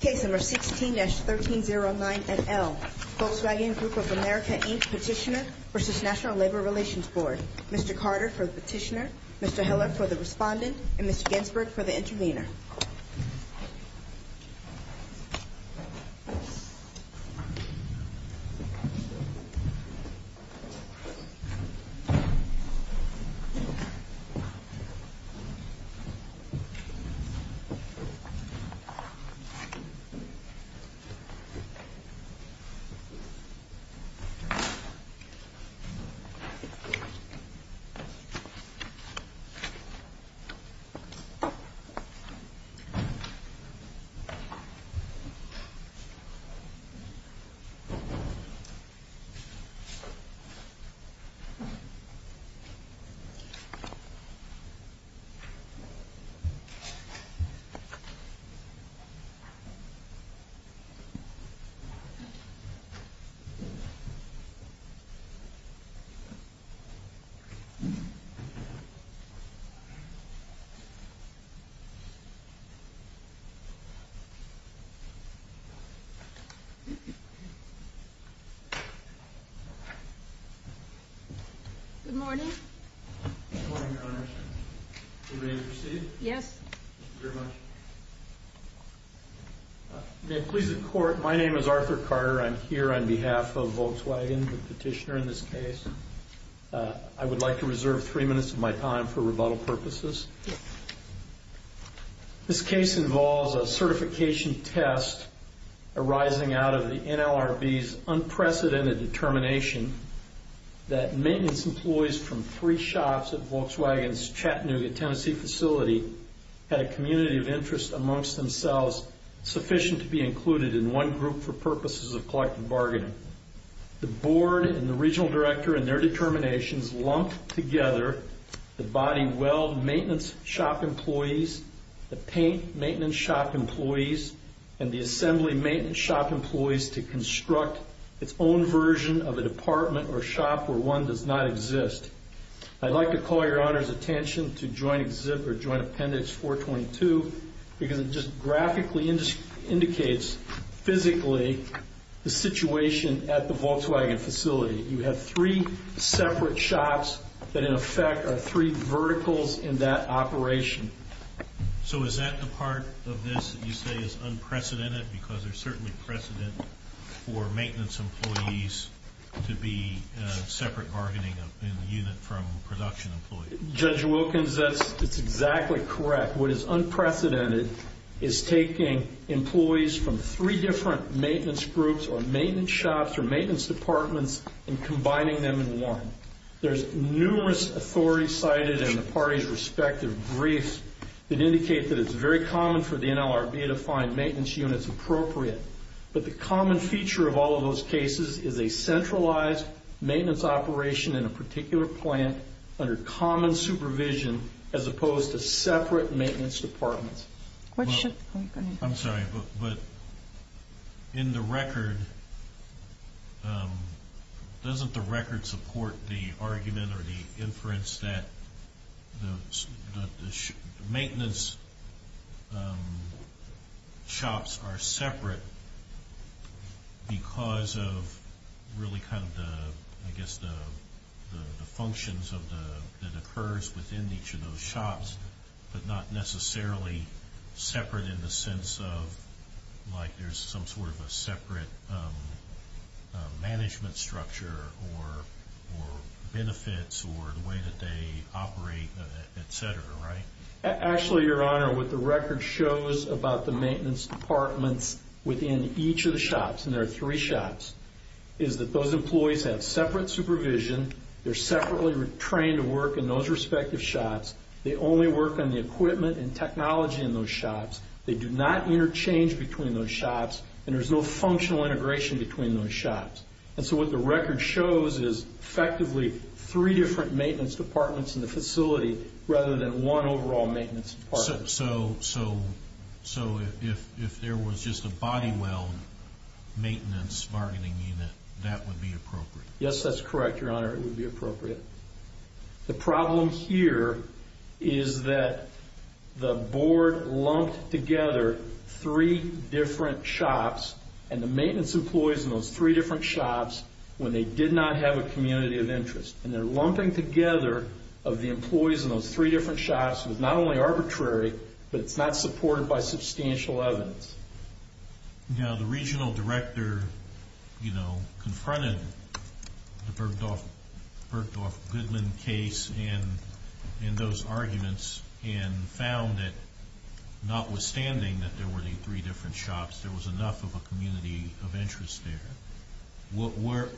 Case No. 16-1309NL Volkswagen Group of America, Inc. Petitioner v. National Labor Relations Board Mr. Carter for the petitioner, Mr. Heller for the respondent, and Mr. Ginsberg for the intervener Mr. Heller for the petitioner, Mr. Ginsberg for the respondent, and Mr. Ginsberg for the intervener Mr. Heller for the petitioner, Mr. Ginsberg for the respondent, and Mr. Ginsberg for the intervener Good morning Good morning, Your Honor Are you ready to proceed? Yes Thank you very much May it please the Court, my name is Arthur Carter, I'm here on behalf of Volkswagen, the petitioner in this case I would like to reserve three minutes of my time for rebuttal purposes This case involves a certification test arising out of the NLRB's unprecedented determination that maintenance employees from three shops at Volkswagen's Chattanooga, Tennessee facility had a community of interest amongst themselves sufficient to be included in one group for purposes of collective bargaining The Board and the Regional Director, in their determinations, lumped together the body weld maintenance shop employees the paint maintenance shop employees and the assembly maintenance shop employees to construct its own version of a department or shop where one does not exist I'd like to call Your Honor's attention to Joint Appendix 422 because it just graphically indicates physically the situation at the Volkswagen facility You have three separate shops that in effect are three verticals in that operation So is that the part of this that you say is unprecedented? Because there's certainly precedent for maintenance employees to be separate bargaining in the unit from production employees Judge Wilkins, that's exactly correct What is unprecedented is taking employees from three different maintenance groups or maintenance shops or maintenance departments and combining them in one There's numerous authorities cited in the parties' respective briefs that indicate that it's very common for the NLRB to find maintenance units appropriate But the common feature of all of those cases is a centralized maintenance operation in a particular plant under common supervision as opposed to separate maintenance departments I'm sorry, but in the record, doesn't the record support the argument or the inference that the maintenance shops are separate because of really kind of the functions that occurs within each of those shops but not necessarily separate in the sense of like there's some sort of a separate management structure or benefits or the way that they operate, et cetera, right? Actually, Your Honor, what the record shows about the maintenance departments within each of the shops and there are three shops, is that those employees have separate supervision They're separately trained to work in those respective shops They only work on the equipment and technology in those shops They do not interchange between those shops And there's no functional integration between those shops And so what the record shows is effectively three different maintenance departments in the facility rather than one overall maintenance department So if there was just a body well maintenance bargaining unit, that would be appropriate? Yes, that's correct, Your Honor, it would be appropriate The problem here is that the board lumped together three different shops and the maintenance employees in those three different shops when they did not have a community of interest And they're lumping together of the employees in those three different shops with not only arbitrary, but it's not supported by substantial evidence Now, the regional director confronted the Bergdorf-Goodman case in those arguments and found that notwithstanding that there were three different shops there was enough of a community of interest there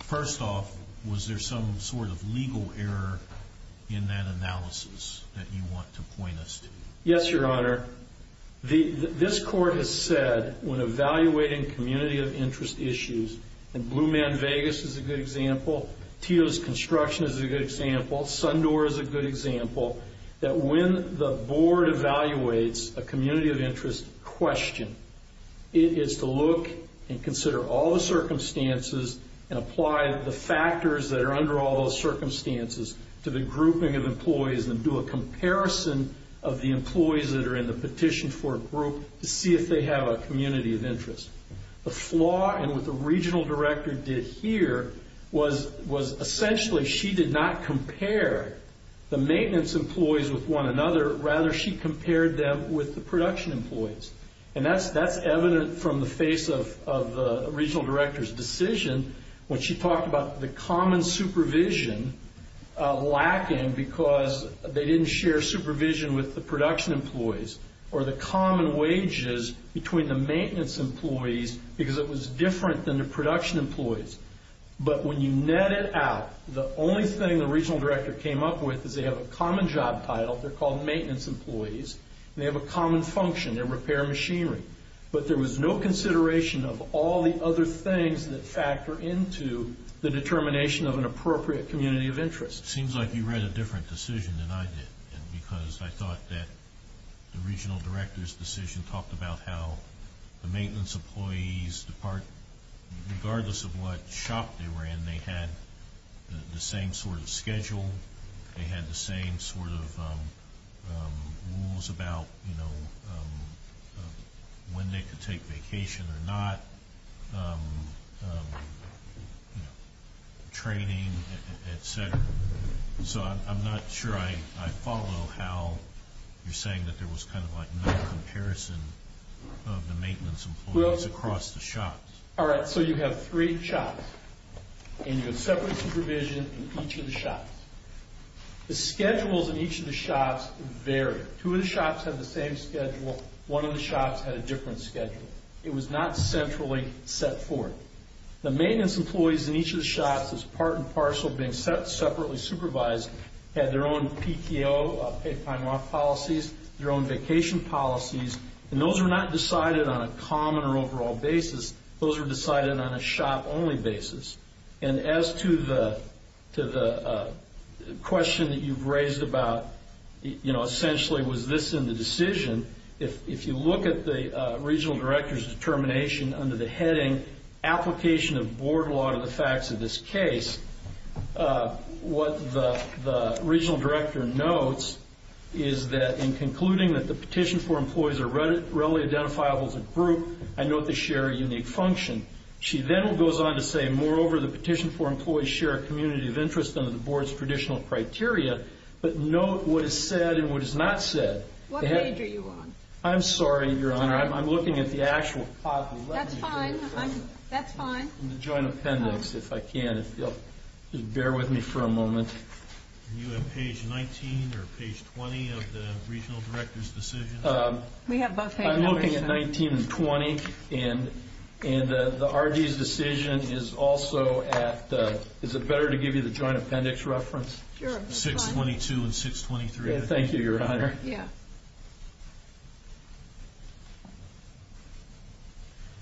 First off, was there some sort of legal error in that analysis that you want to point us to? Yes, Your Honor, this court has said when evaluating community of interest issues and Blue Man Vegas is a good example, Tito's Construction is a good example Sundoor is a good example that when the board evaluates a community of interest question it is to look and consider all the circumstances and apply the factors that are under all those circumstances to the grouping of employees and do a comparison of the employees that are in the petition for a group to see if they have a community of interest The flaw in what the regional director did here was essentially she did not compare the maintenance employees with one another Rather, she compared them with the production employees And that's evident from the face of the regional director's decision when she talked about the common supervision lacking because they didn't share supervision with the production employees or the common wages between the maintenance employees because it was different than the production employees But when you net it out, the only thing the regional director came up with is they have a common job title, they're called maintenance employees and they have a common function, they repair machinery But there was no consideration of all the other things that factor into the determination of an appropriate community of interest It seems like you read a different decision than I did because I thought that the regional director's decision talked about how the maintenance employees, regardless of what shop they were in they had the same sort of schedule they had the same sort of rules about when they could take vacation or not training, etc. So I'm not sure I follow how you're saying that there was kind of like no comparison of the maintenance employees across the shops Alright, so you have three shops and you have separate supervision in each of the shops The schedules in each of the shops vary Two of the shops have the same schedule One of the shops had a different schedule It was not centrally set forth The maintenance employees in each of the shops as part and parcel being separately supervised had their own PTO, paid time off policies their own vacation policies And those were not decided on a common or overall basis Those were decided on a shop-only basis And as to the question that you've raised about essentially was this in the decision If you look at the regional director's determination under the heading Application of Board Law to the Facts of this Case what the regional director notes is that in concluding that the petition for employees are readily identifiable as a group I note they share a unique function She then goes on to say Moreover, the petition for employees share a community of interest under the Board's traditional criteria But note what is said and what is not said What page are you on? I'm sorry, Your Honor I'm looking at the actual That's fine That's fine In the joint appendix, if I can If you'll just bear with me for a moment Are you on page 19 or page 20 of the regional director's decision? We have both hands up I'm looking at 19 and 20 And the RD's decision is also at Is it better to give you the joint appendix reference? Sure 622 and 623 Thank you, Your Honor Yeah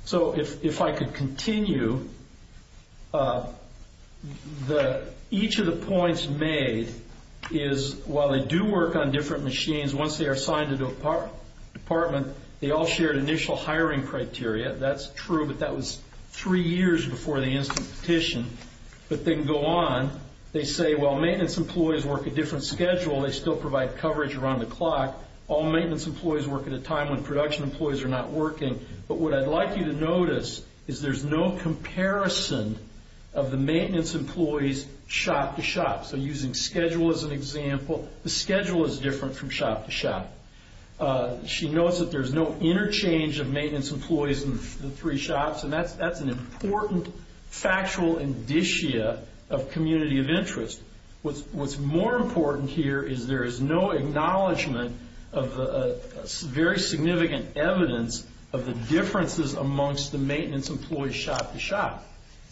So if I could continue Each of the points made is while they do work on different machines once they are assigned to a department they all share initial hiring criteria That's true, but that was three years before the instant petition But then go on They say while maintenance employees work a different schedule they still provide coverage around the clock when production employees are not working But what I'd like you to notice is there's no comparison of the maintenance employees shop to shop So using schedule as an example The schedule is different from shop to shop She notes that there's no interchange of maintenance employees in the three shops And that's an important factual indicia of community of interest What's more important here is there is no acknowledgement of the very significant evidence of the differences amongst the maintenance employees shop to shop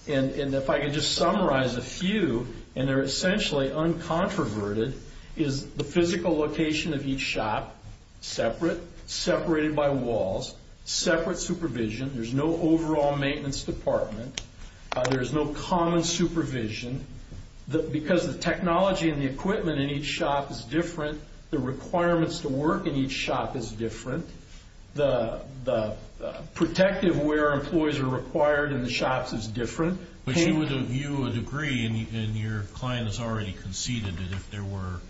And if I could just summarize a few and they're essentially uncontroverted is the physical location of each shop Separate, separated by walls Separate supervision There's no overall maintenance department There's no common supervision Because the technology and the equipment in each shop is different The requirements to work in each shop is different The protective where employees are required in the shops is different But you would agree and your client has already conceded that if there were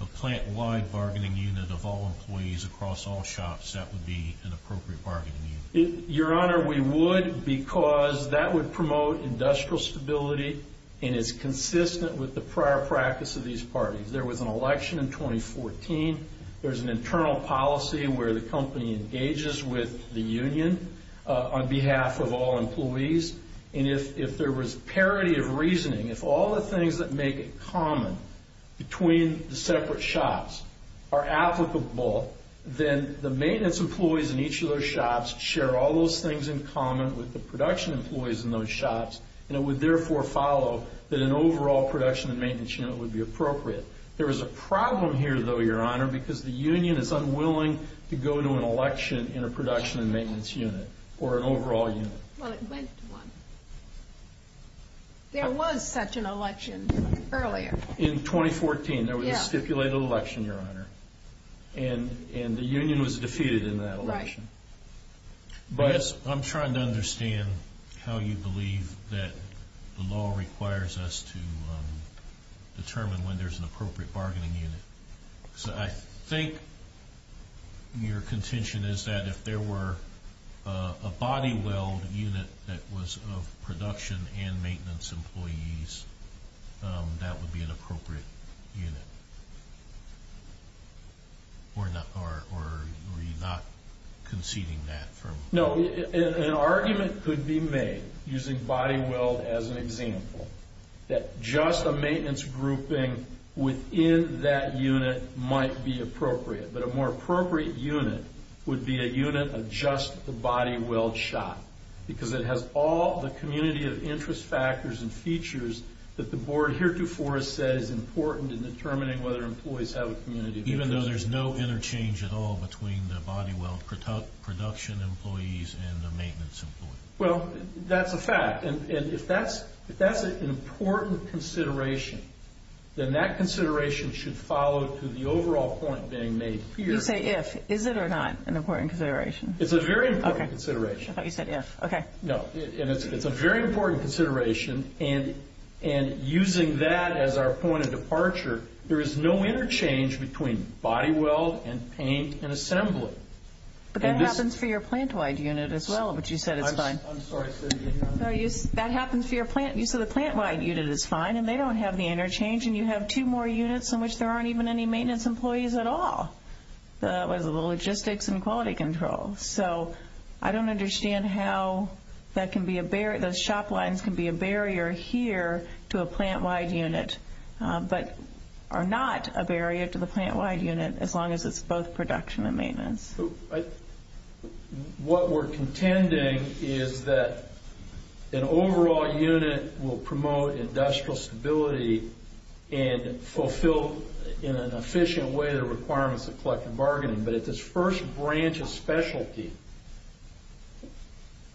a plant-wide bargaining unit of all employees across all shops that would be an appropriate bargaining unit Your Honor, we would because that would promote industrial stability and is consistent with the prior practice of these parties There was an election in 2014 There's an internal policy where the company engages with the union on behalf of all employees and if there was parity of reasoning if all the things that make it common between the separate shops are applicable then the maintenance employees in each of those shops share all those things in common with the production employees in those shops and it would therefore follow that an overall production and maintenance unit would be appropriate There is a problem here though, Your Honor because the union is unwilling to go to an election in a production and maintenance unit or an overall unit Well, it went to one There was such an election earlier In 2014, there was a stipulated election, Your Honor and the union was defeated in that election I'm trying to understand how you believe that the law requires us to determine when there's an appropriate bargaining unit I think your contention is that if there were a body weld unit that was of production and maintenance employees that would be an appropriate unit Or are you not conceding that? No, an argument could be made using body weld as an example that just a maintenance grouping within that unit might be appropriate but a more appropriate unit would be a unit of just the body weld shop because it has all the community of interest factors and features that the board heretofore has said is important in determining whether employees have a community of interest Even though there's no interchange at all between the body weld production employees and the maintenance employees? Well, that's a fact And if that's an important consideration then that consideration should follow to the overall point being made here You say if, is it or not an important consideration? It's a very important consideration I thought you said if, okay No, and it's a very important consideration and using that as our point of departure there is no interchange between body weld and paint and assembly But that happens for your plant-wide unit as well but you said it's fine I'm sorry, I said it, Your Honor That happens for your plant You said the plant-wide unit is fine and they don't have the interchange and you have two more units in which there aren't even any maintenance employees at all That was the logistics and quality control So I don't understand how that can be a barrier Those shop lines can be a barrier here to a plant-wide unit but are not a barrier to the plant-wide unit as long as it's both production and maintenance What we're contending is that an overall unit will promote industrial stability and fulfill in an efficient way the requirements of collective bargaining but at this first branch of specialty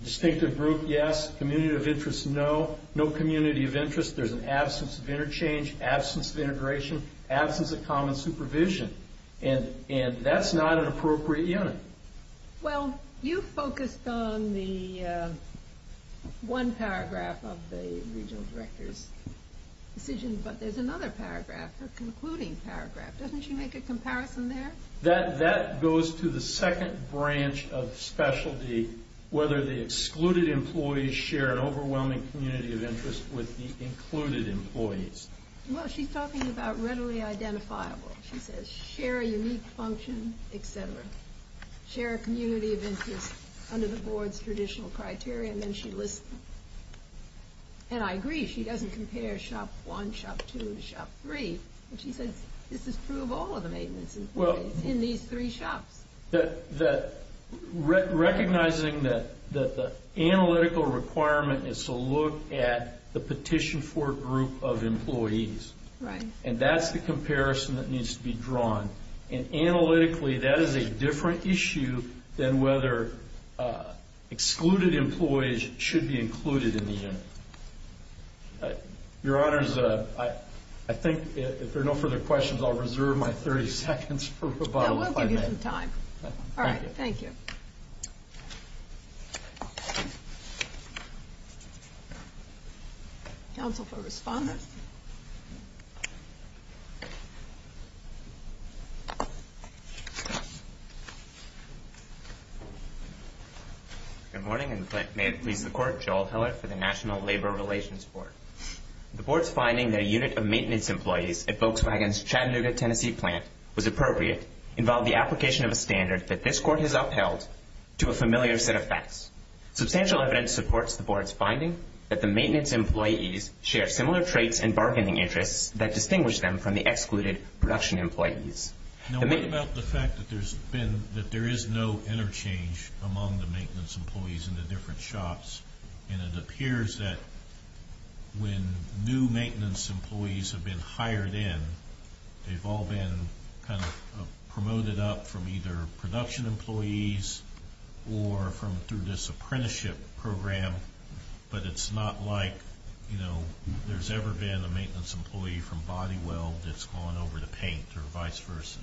Distinctive group, yes Community of interest, no No community of interest There's an absence of interchange absence of integration absence of common supervision and that's not an appropriate unit Well, you focused on the one paragraph of the regional director's decision but there's another paragraph a concluding paragraph Doesn't she make a comparison there? That goes to the second branch of specialty whether the excluded employees share an overwhelming community of interest with the included employees Well, she's talking about readily identifiable She says share a unique function, etc. Share a community of interest under the board's traditional criteria and then she lists them And I agree, she doesn't compare shop one, shop two, shop three She says this is true of all of the maintenance employees in these three shops Recognizing that the analytical requirement is to look at the petition for group of employees Right And that's the comparison that needs to be drawn And analytically, that is a different issue than whether excluded employees should be included in the unit Your honors, I think if there are no further questions I'll reserve my 30 seconds for rebuttal We'll give you some time All right, thank you Counsel for Respondent Good morning and may it please the court Joel Heller for the National Labor Relations Board The board's finding that a unit of maintenance employees at Volkswagen's Chattanooga, Tennessee plant was appropriate involved the application of a standard that this court has upheld to a familiar set of facts Substantial evidence supports the board's finding that the maintenance employees share similar traits and bargaining interests that distinguish them from the excluded production employees Now what about the fact that there's been that there is no interchange among the maintenance employees in the different shops And it appears that when new maintenance employees have been hired in they've all been kind of promoted up from either production employees or from through this apprenticeship program But it's not like, you know there's ever been a maintenance employee from body weld that's gone over to paint or vice versa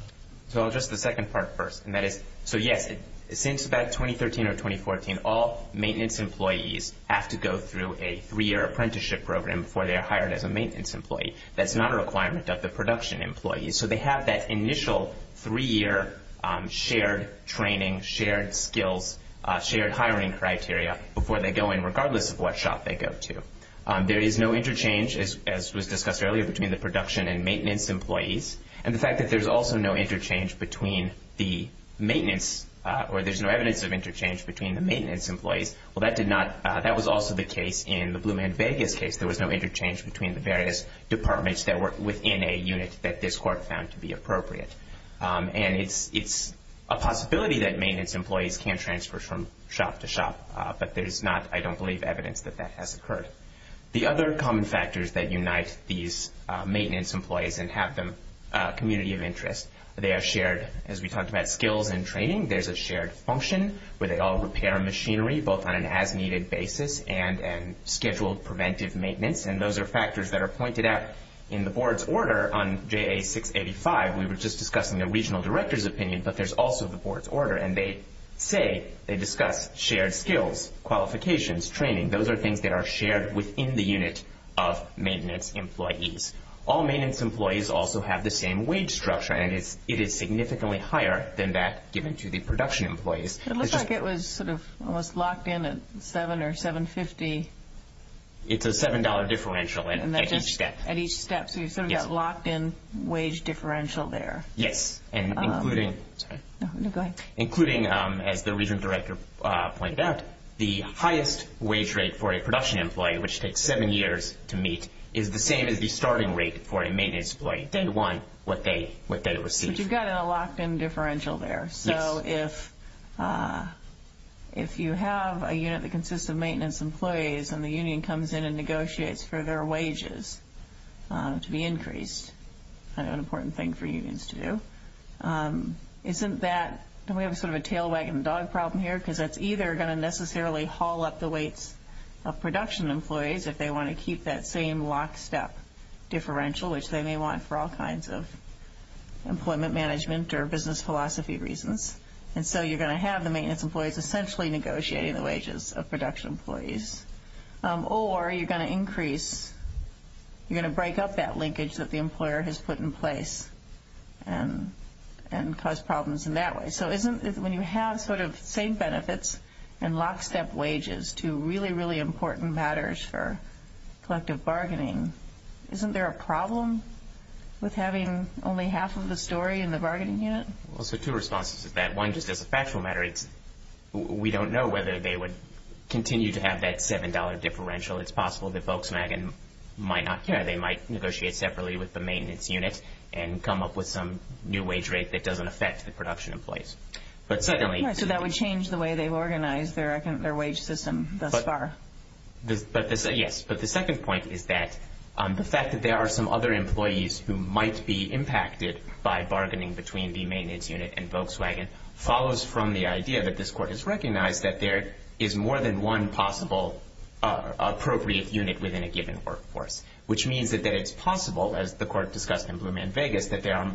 So I'll address the second part first And that is, so yes Since about 2013 or 2014 all maintenance employees have to go through a three-year apprenticeship program before they're hired as a maintenance employee That's not a requirement of the production employees So they have that initial three-year shared training, shared skills shared hiring criteria before they go in regardless of what shop they go to There is no interchange as was discussed earlier between the production and maintenance employees And the fact that there's also no interchange between the maintenance or there's no evidence of interchange between the maintenance employees Well that did not that was also the case in the Blue Man Vegas case There was no interchange between the various departments that were within a unit that this court found to be appropriate And it's a possibility that maintenance employees can transfer from shop to shop But there's not I don't believe evidence that that has occurred The other common factors that unite these maintenance employees and have them a community of interest They are shared as we talked about skills and training There's a shared function where they all repair machinery both on an as-needed basis and scheduled preventive maintenance And those are factors that are pointed out in the board's order On JA-685 we were just discussing the regional director's opinion but there's also the board's order And they say they discuss shared skills qualifications training Those are things that are shared within the unit of maintenance employees All maintenance employees also have the same wage structure And it is significantly higher than that given to the production employees It looks like it was sort of almost locked in at $7 or $7.50 It's a $7 differential at each step At each step So you sort of got locked in wage differential there Yes And including Sorry No, go ahead Including as the regional director pointed out the highest wage rate for a production employee which takes 7 years to meet is the same as the starting rate for a maintenance employee 10 to 1 what they receive But you've got a locked in differential there Yes So if if you have a unit that consists of maintenance employees and the union comes in and negotiates for their wages to be increased kind of an important thing for unions to do Isn't that don't we have sort of a tail wagon dog problem here because that's either going to necessarily haul up the weights of production employees if they want to keep that same lock step differential which they may want for all kinds of employment management or business philosophy reasons And so you're going to have the maintenance employees essentially negotiating the wages of production employees Or you're going to increase you're going to break up that linkage that the employer has put in place and and cause problems in that way So isn't when you have sort of same benefits and lock step wages to really really important matters for collective bargaining isn't there a problem with having only half of the story in the bargaining unit? Well so two responses to that One just as a factual matter it's we don't know whether they would continue to have that $7 differential It's possible that Volkswagen might not care They might negotiate separately with the maintenance unit and come up with some new wage rate that doesn't affect the production employees But secondly So that would change the way they organize their wage system thus far Yes But the second point is that the fact that there are some other employees who might be impacted by bargaining between the maintenance unit and Volkswagen follows from the idea that this court has recognized that there is more than one possible appropriate unit within a given workforce which means that it's possible as the court discussed in Blue Man Vegas that there are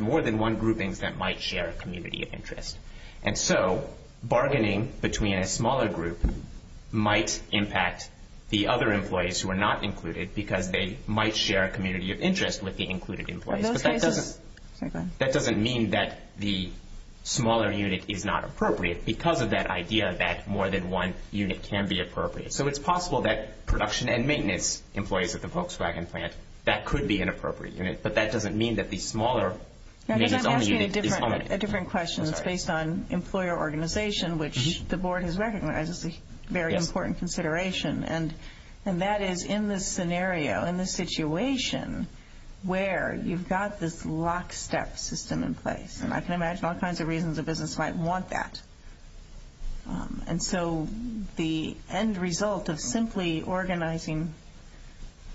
more than one groupings that might share a community of interest And so bargaining between a smaller group might impact the other employees who are not included because they might share a community of interest with the included employees But that doesn't That doesn't mean that the smaller unit is not appropriate because of that idea that more than one unit can be appropriate So it's possible that production and maintenance employees at the Volkswagen plant that could be an appropriate unit But that doesn't mean that the smaller maintenance only unit is only I'm asking a different question It's based on employer organization which the board has recognized as a very important consideration And that is in this scenario in this situation where you've got this lockstep system in place And I can imagine all kinds of reasons a business might want that And so the end result of simply organizing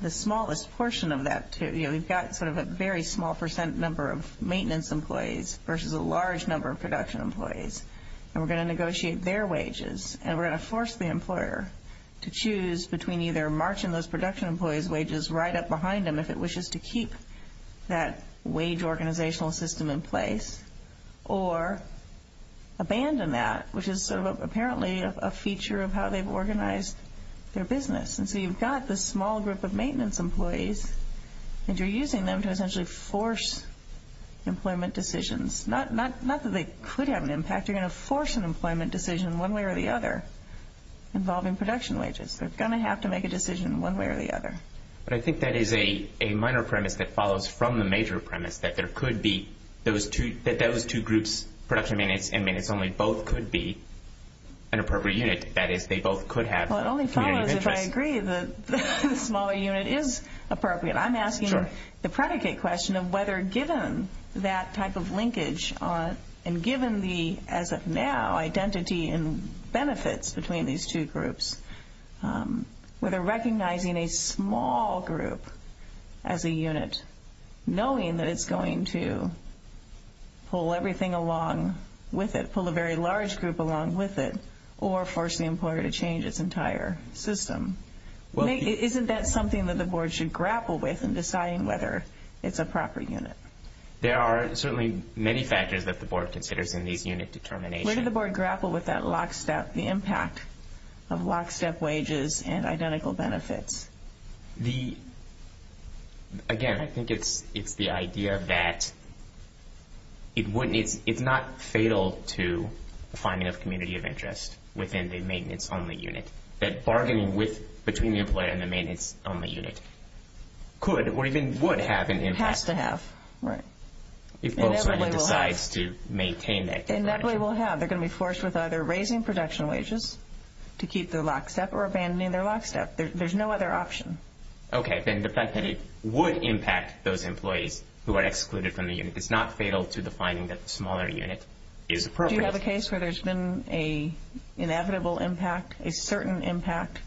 the smallest portion of that to, you know you've got sort of a very small percent number of maintenance employees versus a large number of production employees And we're going to negotiate their wages And we're going to force the employer to choose between either marching those production employees' wages right up behind them if it were to abandon that which is apparently a feature of how they've organized their business And so you've got this small group of maintenance employees And you're using them to essentially force employment decisions Not that they could have an impact You're going to force an employment decision one way or the other involving production wages They're going to have to make a decision one way or the other But I think that is a minor premise that follows from the major premise that there could be those two groups, production maintenance and maintenance only, both could be an appropriate unit That is, they both could have community interest Well, it only follows if I agree that the smaller unit is appropriate I'm asking the of whether given that type of linkage and given the, as of now, identity and benefits between these two groups, whether recognizing a small group as a unit could be an appropriate unit knowing that it's going to pull everything along with it, pull a very large group along with it or force the employer to change its entire system Isn't that something that the board should grapple with in deciding whether it's a proper unit There are certainly many factors that in these unit determinations Where did the board grapple with that lockstep, the impact of lockstep wages and identical benefits The, again Identical benefits I think it's the idea that it wouldn't it's not fatal to finding a community of interest within the maintenance only unit That bargaining between the employer and the maintenance only unit could or even would have an impact It has to have Right If Volkswagen decides to maintain that They inevitably will have They're going to be forced with either raising production wages to keep their lockstep There's no other option Okay, then the fact that it would impact those employees who are excluded from the unit It's not fatal to the finding that the smaller unit is appropriate Do you have a case where there's been an inevitable impact a certain impact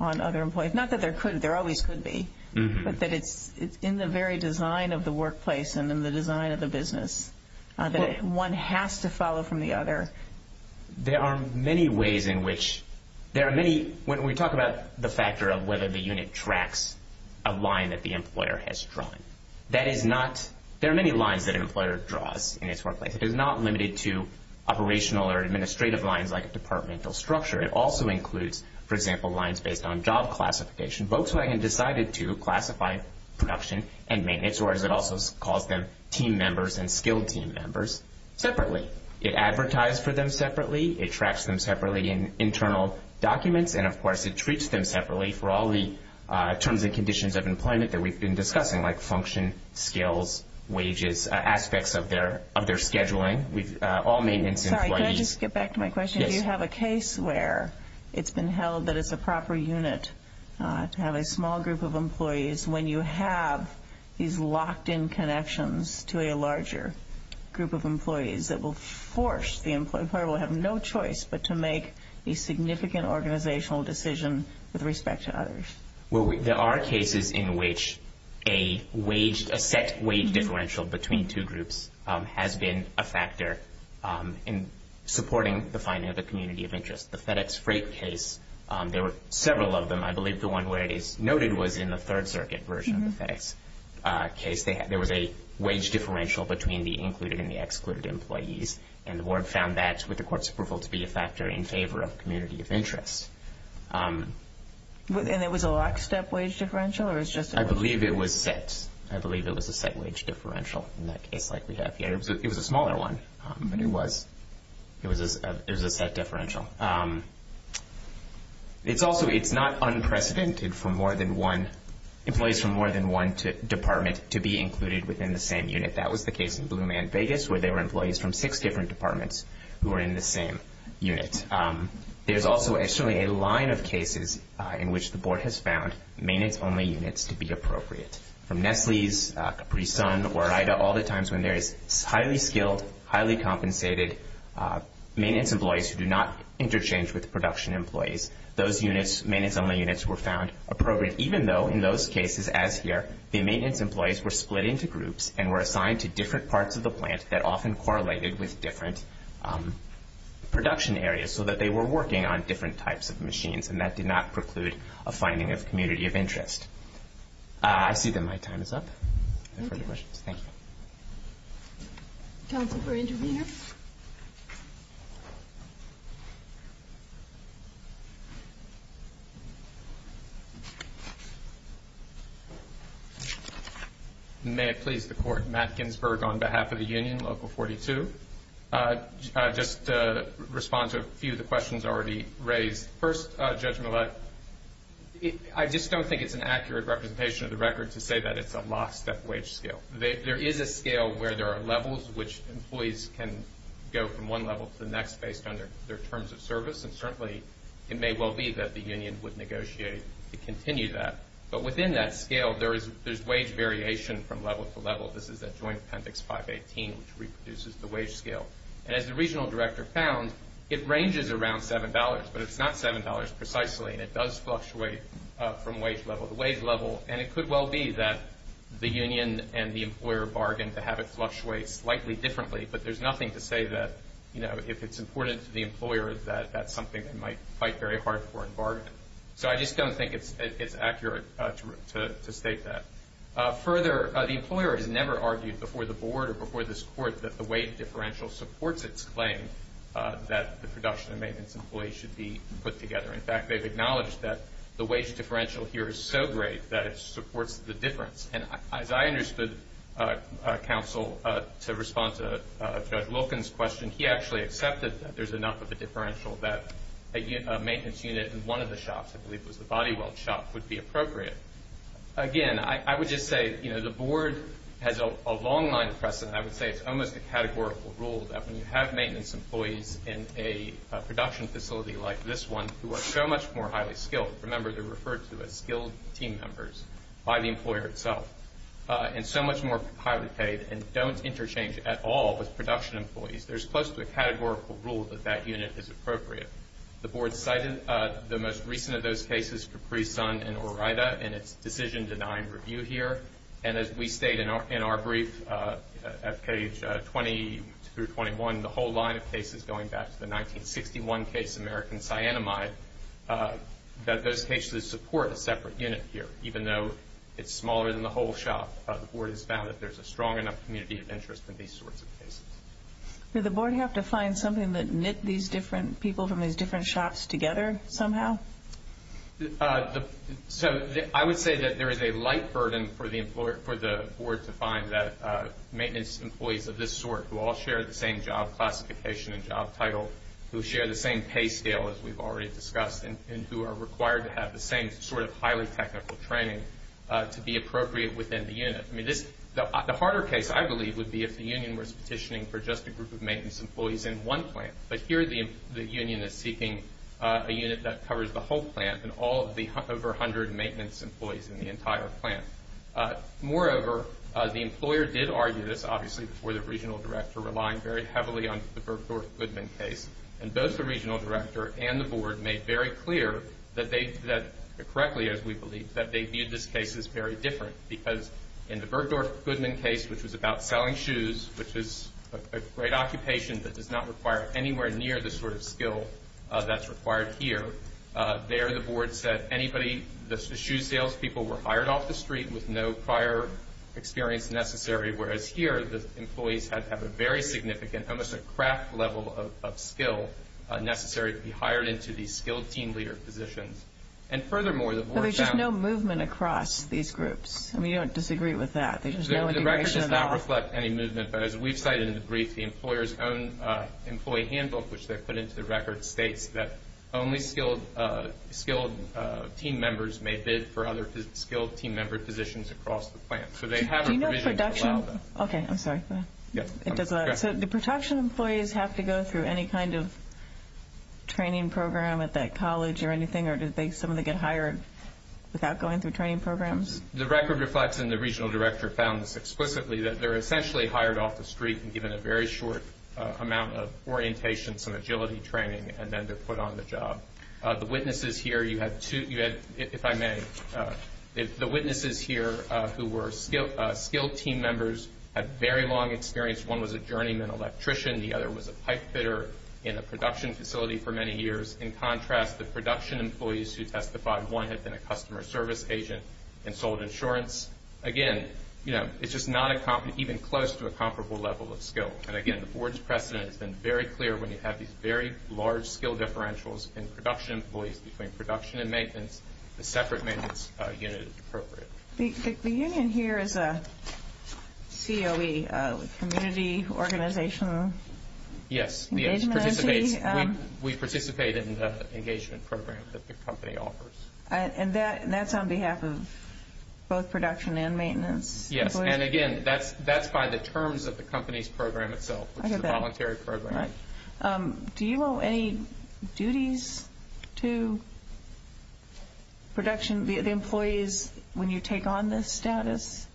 on other employees Not that there always could be But that it's in the very design of the workplace and in the design of the business that one has to follow from the other There are many ways in which There are many When we talk about the factor of whether the unit tracks a line that the employer has drawn That is not There are many lines that an employer draws in its workplace It is not limited to operational or administrative lines like a departmental structure It also includes for example lines based on job classification Volkswagen decided to classify production and maintenance or as it also calls them team members and skilled team members separately It advertises for them separately It tracks them separately in internal documents and of course it treats them separately for all the terms and conditions of employment that we've been discussing like function, skills, wages aspects of their scheduling Sorry, can I just get back to my question Do you have a case where it's been held that it's a proper unit to have a small group of employees when you have these locked in employees that will force the employee who will have no choice but to make a significant organizational decision with respect to others There are cases in which a set wage differential between two groups has been a factor in supporting the finding of the community of interest The FedEx Freight case, there were several of them I believe the one where it is noted was in the third circuit version of the FedEx case There was a wage differential between the included and excluded employees and the board found that with the court's approval to be a factor in favor of community of interest And it was a lockstep wage differential? I believe it was a set wage differential It was a smaller one but it was It was a set differential It's also not unprecedented for more than one employees from more than one department to be included within the same unit That was the case in Blue Man Vegas where there were employees from six different departments who were in the same unit There's also a line of cases in which the board has found maintenance only units to be appropriate For instance from Nestle's Capri Sun all the times when there is highly skilled highly compensated maintenance employees who do not interchange with production employees those units were found appropriate even though in those cases the maintenance employees were split into groups and assigned to different parts of the plant that often correlated with different production areas so that they were working on different types of machines and that did not preclude a finding of community of interest I see that my time is up Thank you Council for interveners May it please the court Matt Ginsberg on behalf of the union local 42 just to respond to a few of the questions already raised first Judge Millett I just don't think it's an accurate representation of the record to say that it's a lost step to have the employment and the employer bargain to have it fluctuate slightly differently but there's nothing to say that if it's important to the employer that that's something they might fight very hard for and bargain so I don't think it's accurate to state that the employer has never argued before the board or before this court that the wage differential supports its claim that the production and maintenance employees should be put together. In fact they've acknowledged that the wage differential is so great that it supports the difference and as I understood counsel to respond to judge Loken's question he actually accepted that there's enough of a differential that a maintenance unit in one of the shops I believe was the body weld shop would be appropriate. Again I would just say you know the board has a long line precedent I would say it's almost a categorical rule that when you have maintenance employees in a production facility like this one who are so much more highly skilled remember they're referred to as skilled team members by the employer itself and so much more highly paid and don't interchange at all with production employees there's close to a categorical rule that that unit is appropriate. The board cited the most recent of those cases in its decision denying review here and as we state in our brief at page 20 through 21 the whole line of cases going back to the 1961 case American cyanamide that those cases support a separate unit here even though it's smaller than the whole shop. The board has found that there's a strong enough community of interest in these sorts of cases. Do the board have to find something that knit these different people from these different shops together somehow? So I would say that there is a light burden for the board to find that maintenance employees of this sort who all share the same job classification and job title who share the same pay scale as we've already discussed and who are required to have the same sort of highly technical training to be appropriate within the unit. I mean the harder case I believe would be if the union was petitioning for just a group of maintenance employees in one plant but here the union is seeking a unit that covers the whole plant and all of the over hundred maintenance employees in the entire plant. Moreover, the employer did argue this obviously before the regional meeting that the issue salespeople were hired off the street with no prior experience necessary whereas here the employees have a very almost a craft level of skill necessary to be hired into these skilled team leader positions. And furthermore the board found that the employees have experience necessary to be hired into these groups. We don't disagree with that. The record does not reflect any movement but as we've cited in the brief the employer's own employee handbook states that only skilled team members may bid for other skilled team member positions across the plant. So they have a provision to allow that. So do production employees have to go through any kind of training program at that college or anything or do some of them get hired without going through training programs? The record reflects and the regional director found this explicitly that they're essentially hired off the street and they're given a very short amount of orientation, some agility training and then they're put on the job. The witnesses here who were skilled team members had very long experience. One was a journeyman electrician. The other was a pipe fitter in a production facility for many years. In contrast, the production employees who were skilled very short amount of orientation. And again, the board's precedent has been very clear when you have these very large skill differentials in production employees between production and maintenance, a separate maintenance unit is appropriate. The union here is a COE, community organization engagement entity? It's a voluntary program. Do you owe any duties to production employees when you take on this status?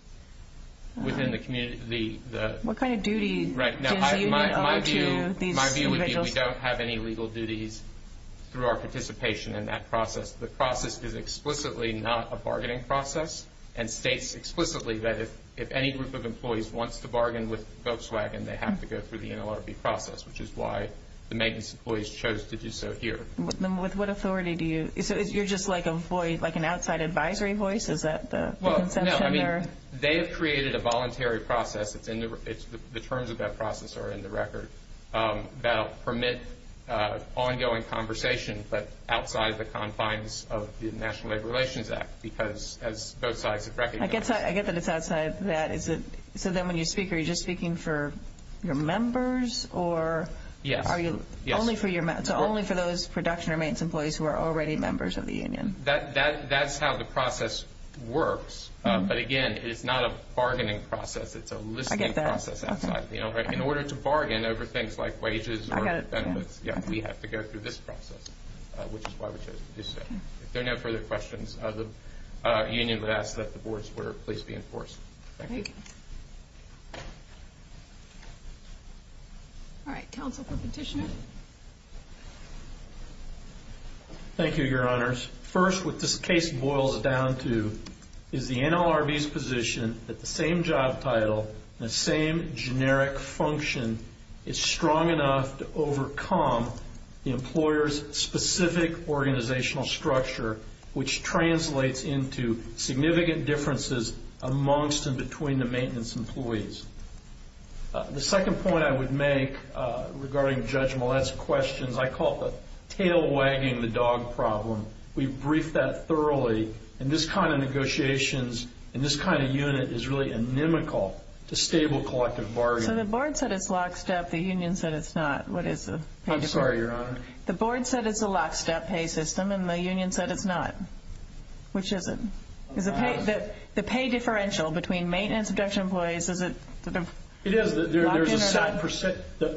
What kind of duty do you owe to these individuals? We don't have any legal duties through our participation in that process. The process is explicitly not a bargaining process and states explicitly that if any group of employees wants to bargain with Volkswagen they have to go through the NLRB process, which is why the maintenance employees chose to do so here. So you're just like an outside advisory voice? They have created a voluntary process, the terms of that process are in the record, that permit ongoing conversation outside the confines of the National Labor Relations Act. I get that it's outside that. So when you speak are you just speaking for your members or are you only for those production or maintenance employees who are already members of the union? That's how the process works, but again it's not a bargaining process, it's a listening process. In order to bargain over things like wages or benefits we have to go through this process, which is why we chose to do so. If there are no further questions the union would ask that the boards were please be enforced. Thank you. All right, counsel for petitioner. Thank you your honors. First what this case boils down to is the NLRB's position that the NLRB is strong enough to overcome the employer's specific organizational structure which translates into significant differences amongst and between the maintenance employees. The second point I would make regarding judge questions, I call it the tail wagging the dog problem. We briefed that thoroughly and this kind of negotiations and this kind of unit is really inimical to stable collective bargaining. So the board said it's lock step, the union said it's not. I'm sorry your honors. The board said it's a lock step pay system and the union said it's not. Which is it? The pay differential between maintenance employees, is it locked step?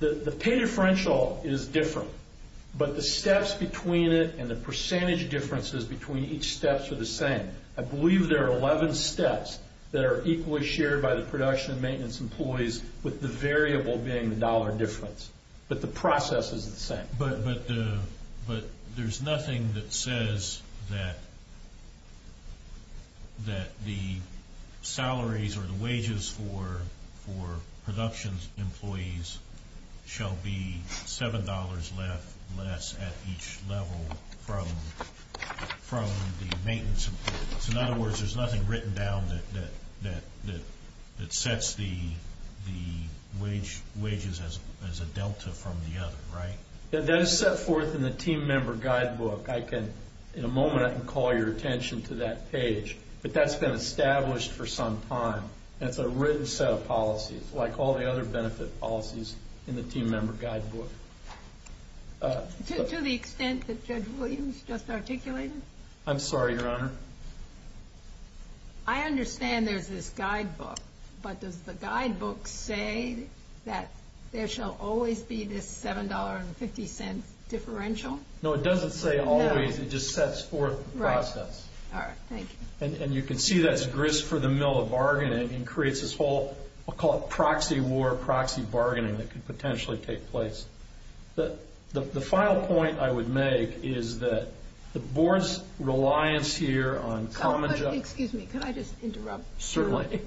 The pay differential is different but the steps between it and the percentage differences between each steps are the same. I believe there are 11 steps that are equally shared by the production and maintenance employees with the variable being the dollar difference. But the production employees shall be $7 less at each level from the maintenance employees. In other words, there's nothing written down that sets the wages as a delta from the other, right? That's set forth in the team member guidebook. To the extent that Judge Williams just articulated? I'm sorry, your honor. I understand there's this guidebook but does the guidebook say that there shall always be this $7.50 differential? No, it doesn't say always, it just sets forth the process. And you can see that's grist for the mill of bargaining and creates this whole proxy war bargaining that could potentially take place. The final point I would make is that the board's reliance here on common judgment is there creates this proxy war bargaining that creates this proxy war bargaining that creates this proxy war bargaining that creates this proxy war bargaining this proxy war bargaining that creates this proxy war bargaining that creates this proxy war bargain that creates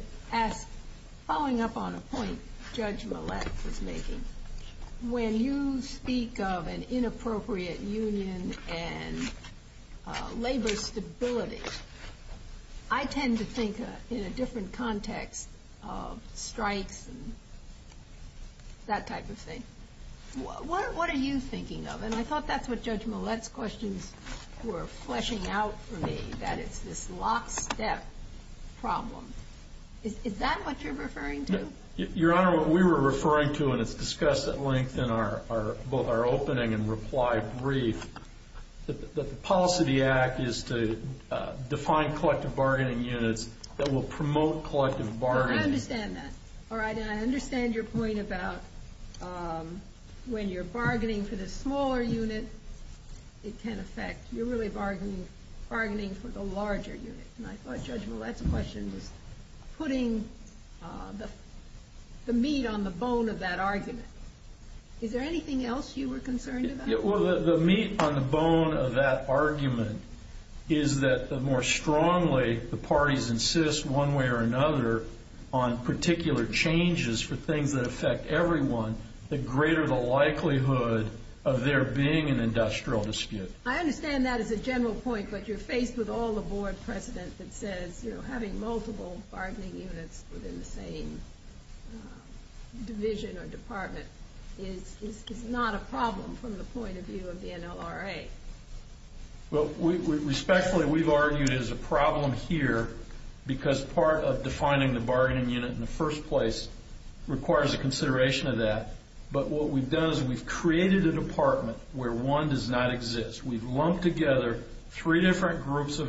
this proxy war bargaining that creates bargaining that creates this proxy war bargaining that creates this proxy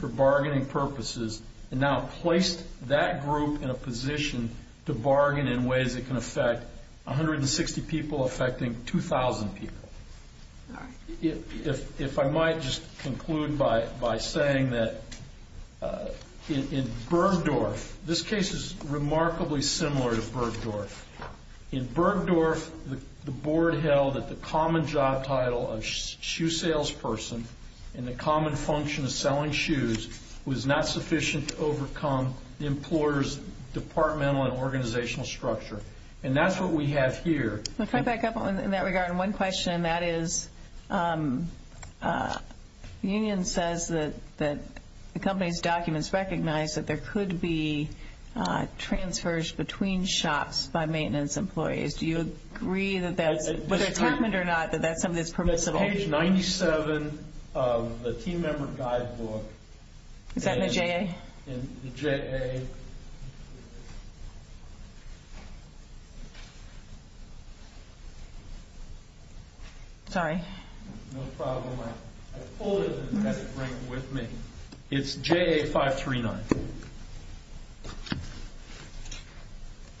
war bargaining that creates this proxy war that creates this purpose is now placed that group in a position to bargain in ways that can affect 160 people affecting 2000 people. If I might just conclude by saying that in Bergdorf, this case is remarkably similar to Bergdorf. In Bergdorf, the board held that the common job title of shoe sales person in the common function of selling shoes was not sufficient to overcome the employer's and organizational structure. And that's what we have here. In that regard, one question that is, the union says that the company's documents recognize that there could be transfers between shops by maintenance employees. Do you agree that that's something that's permissible? Page 97 of the team member guidebook. Is that in the JA? Sorry. No problem. I pulled it and had it bring it with me. It's in the JA 539.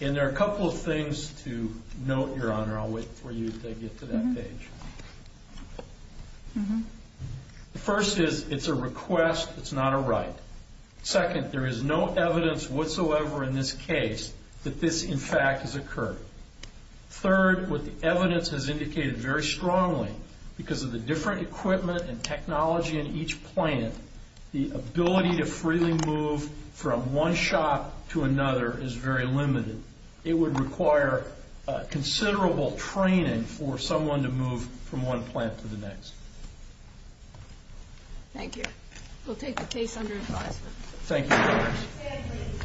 And there are a couple of things to note, Your Honor. I'll wait for you to get to that page. The first is it's a request, it's not a right. Second, there is no evidence whatsoever in this case that this, in fact, has occurred. Third, what the evidence has indicated very strongly, because of the different equipment and technology in each plant, the ability to freely move from one shop to another is very limited. It would require considerable someone to move from one plant to the next. Thank you. We'll take the case under advisement. Thank you,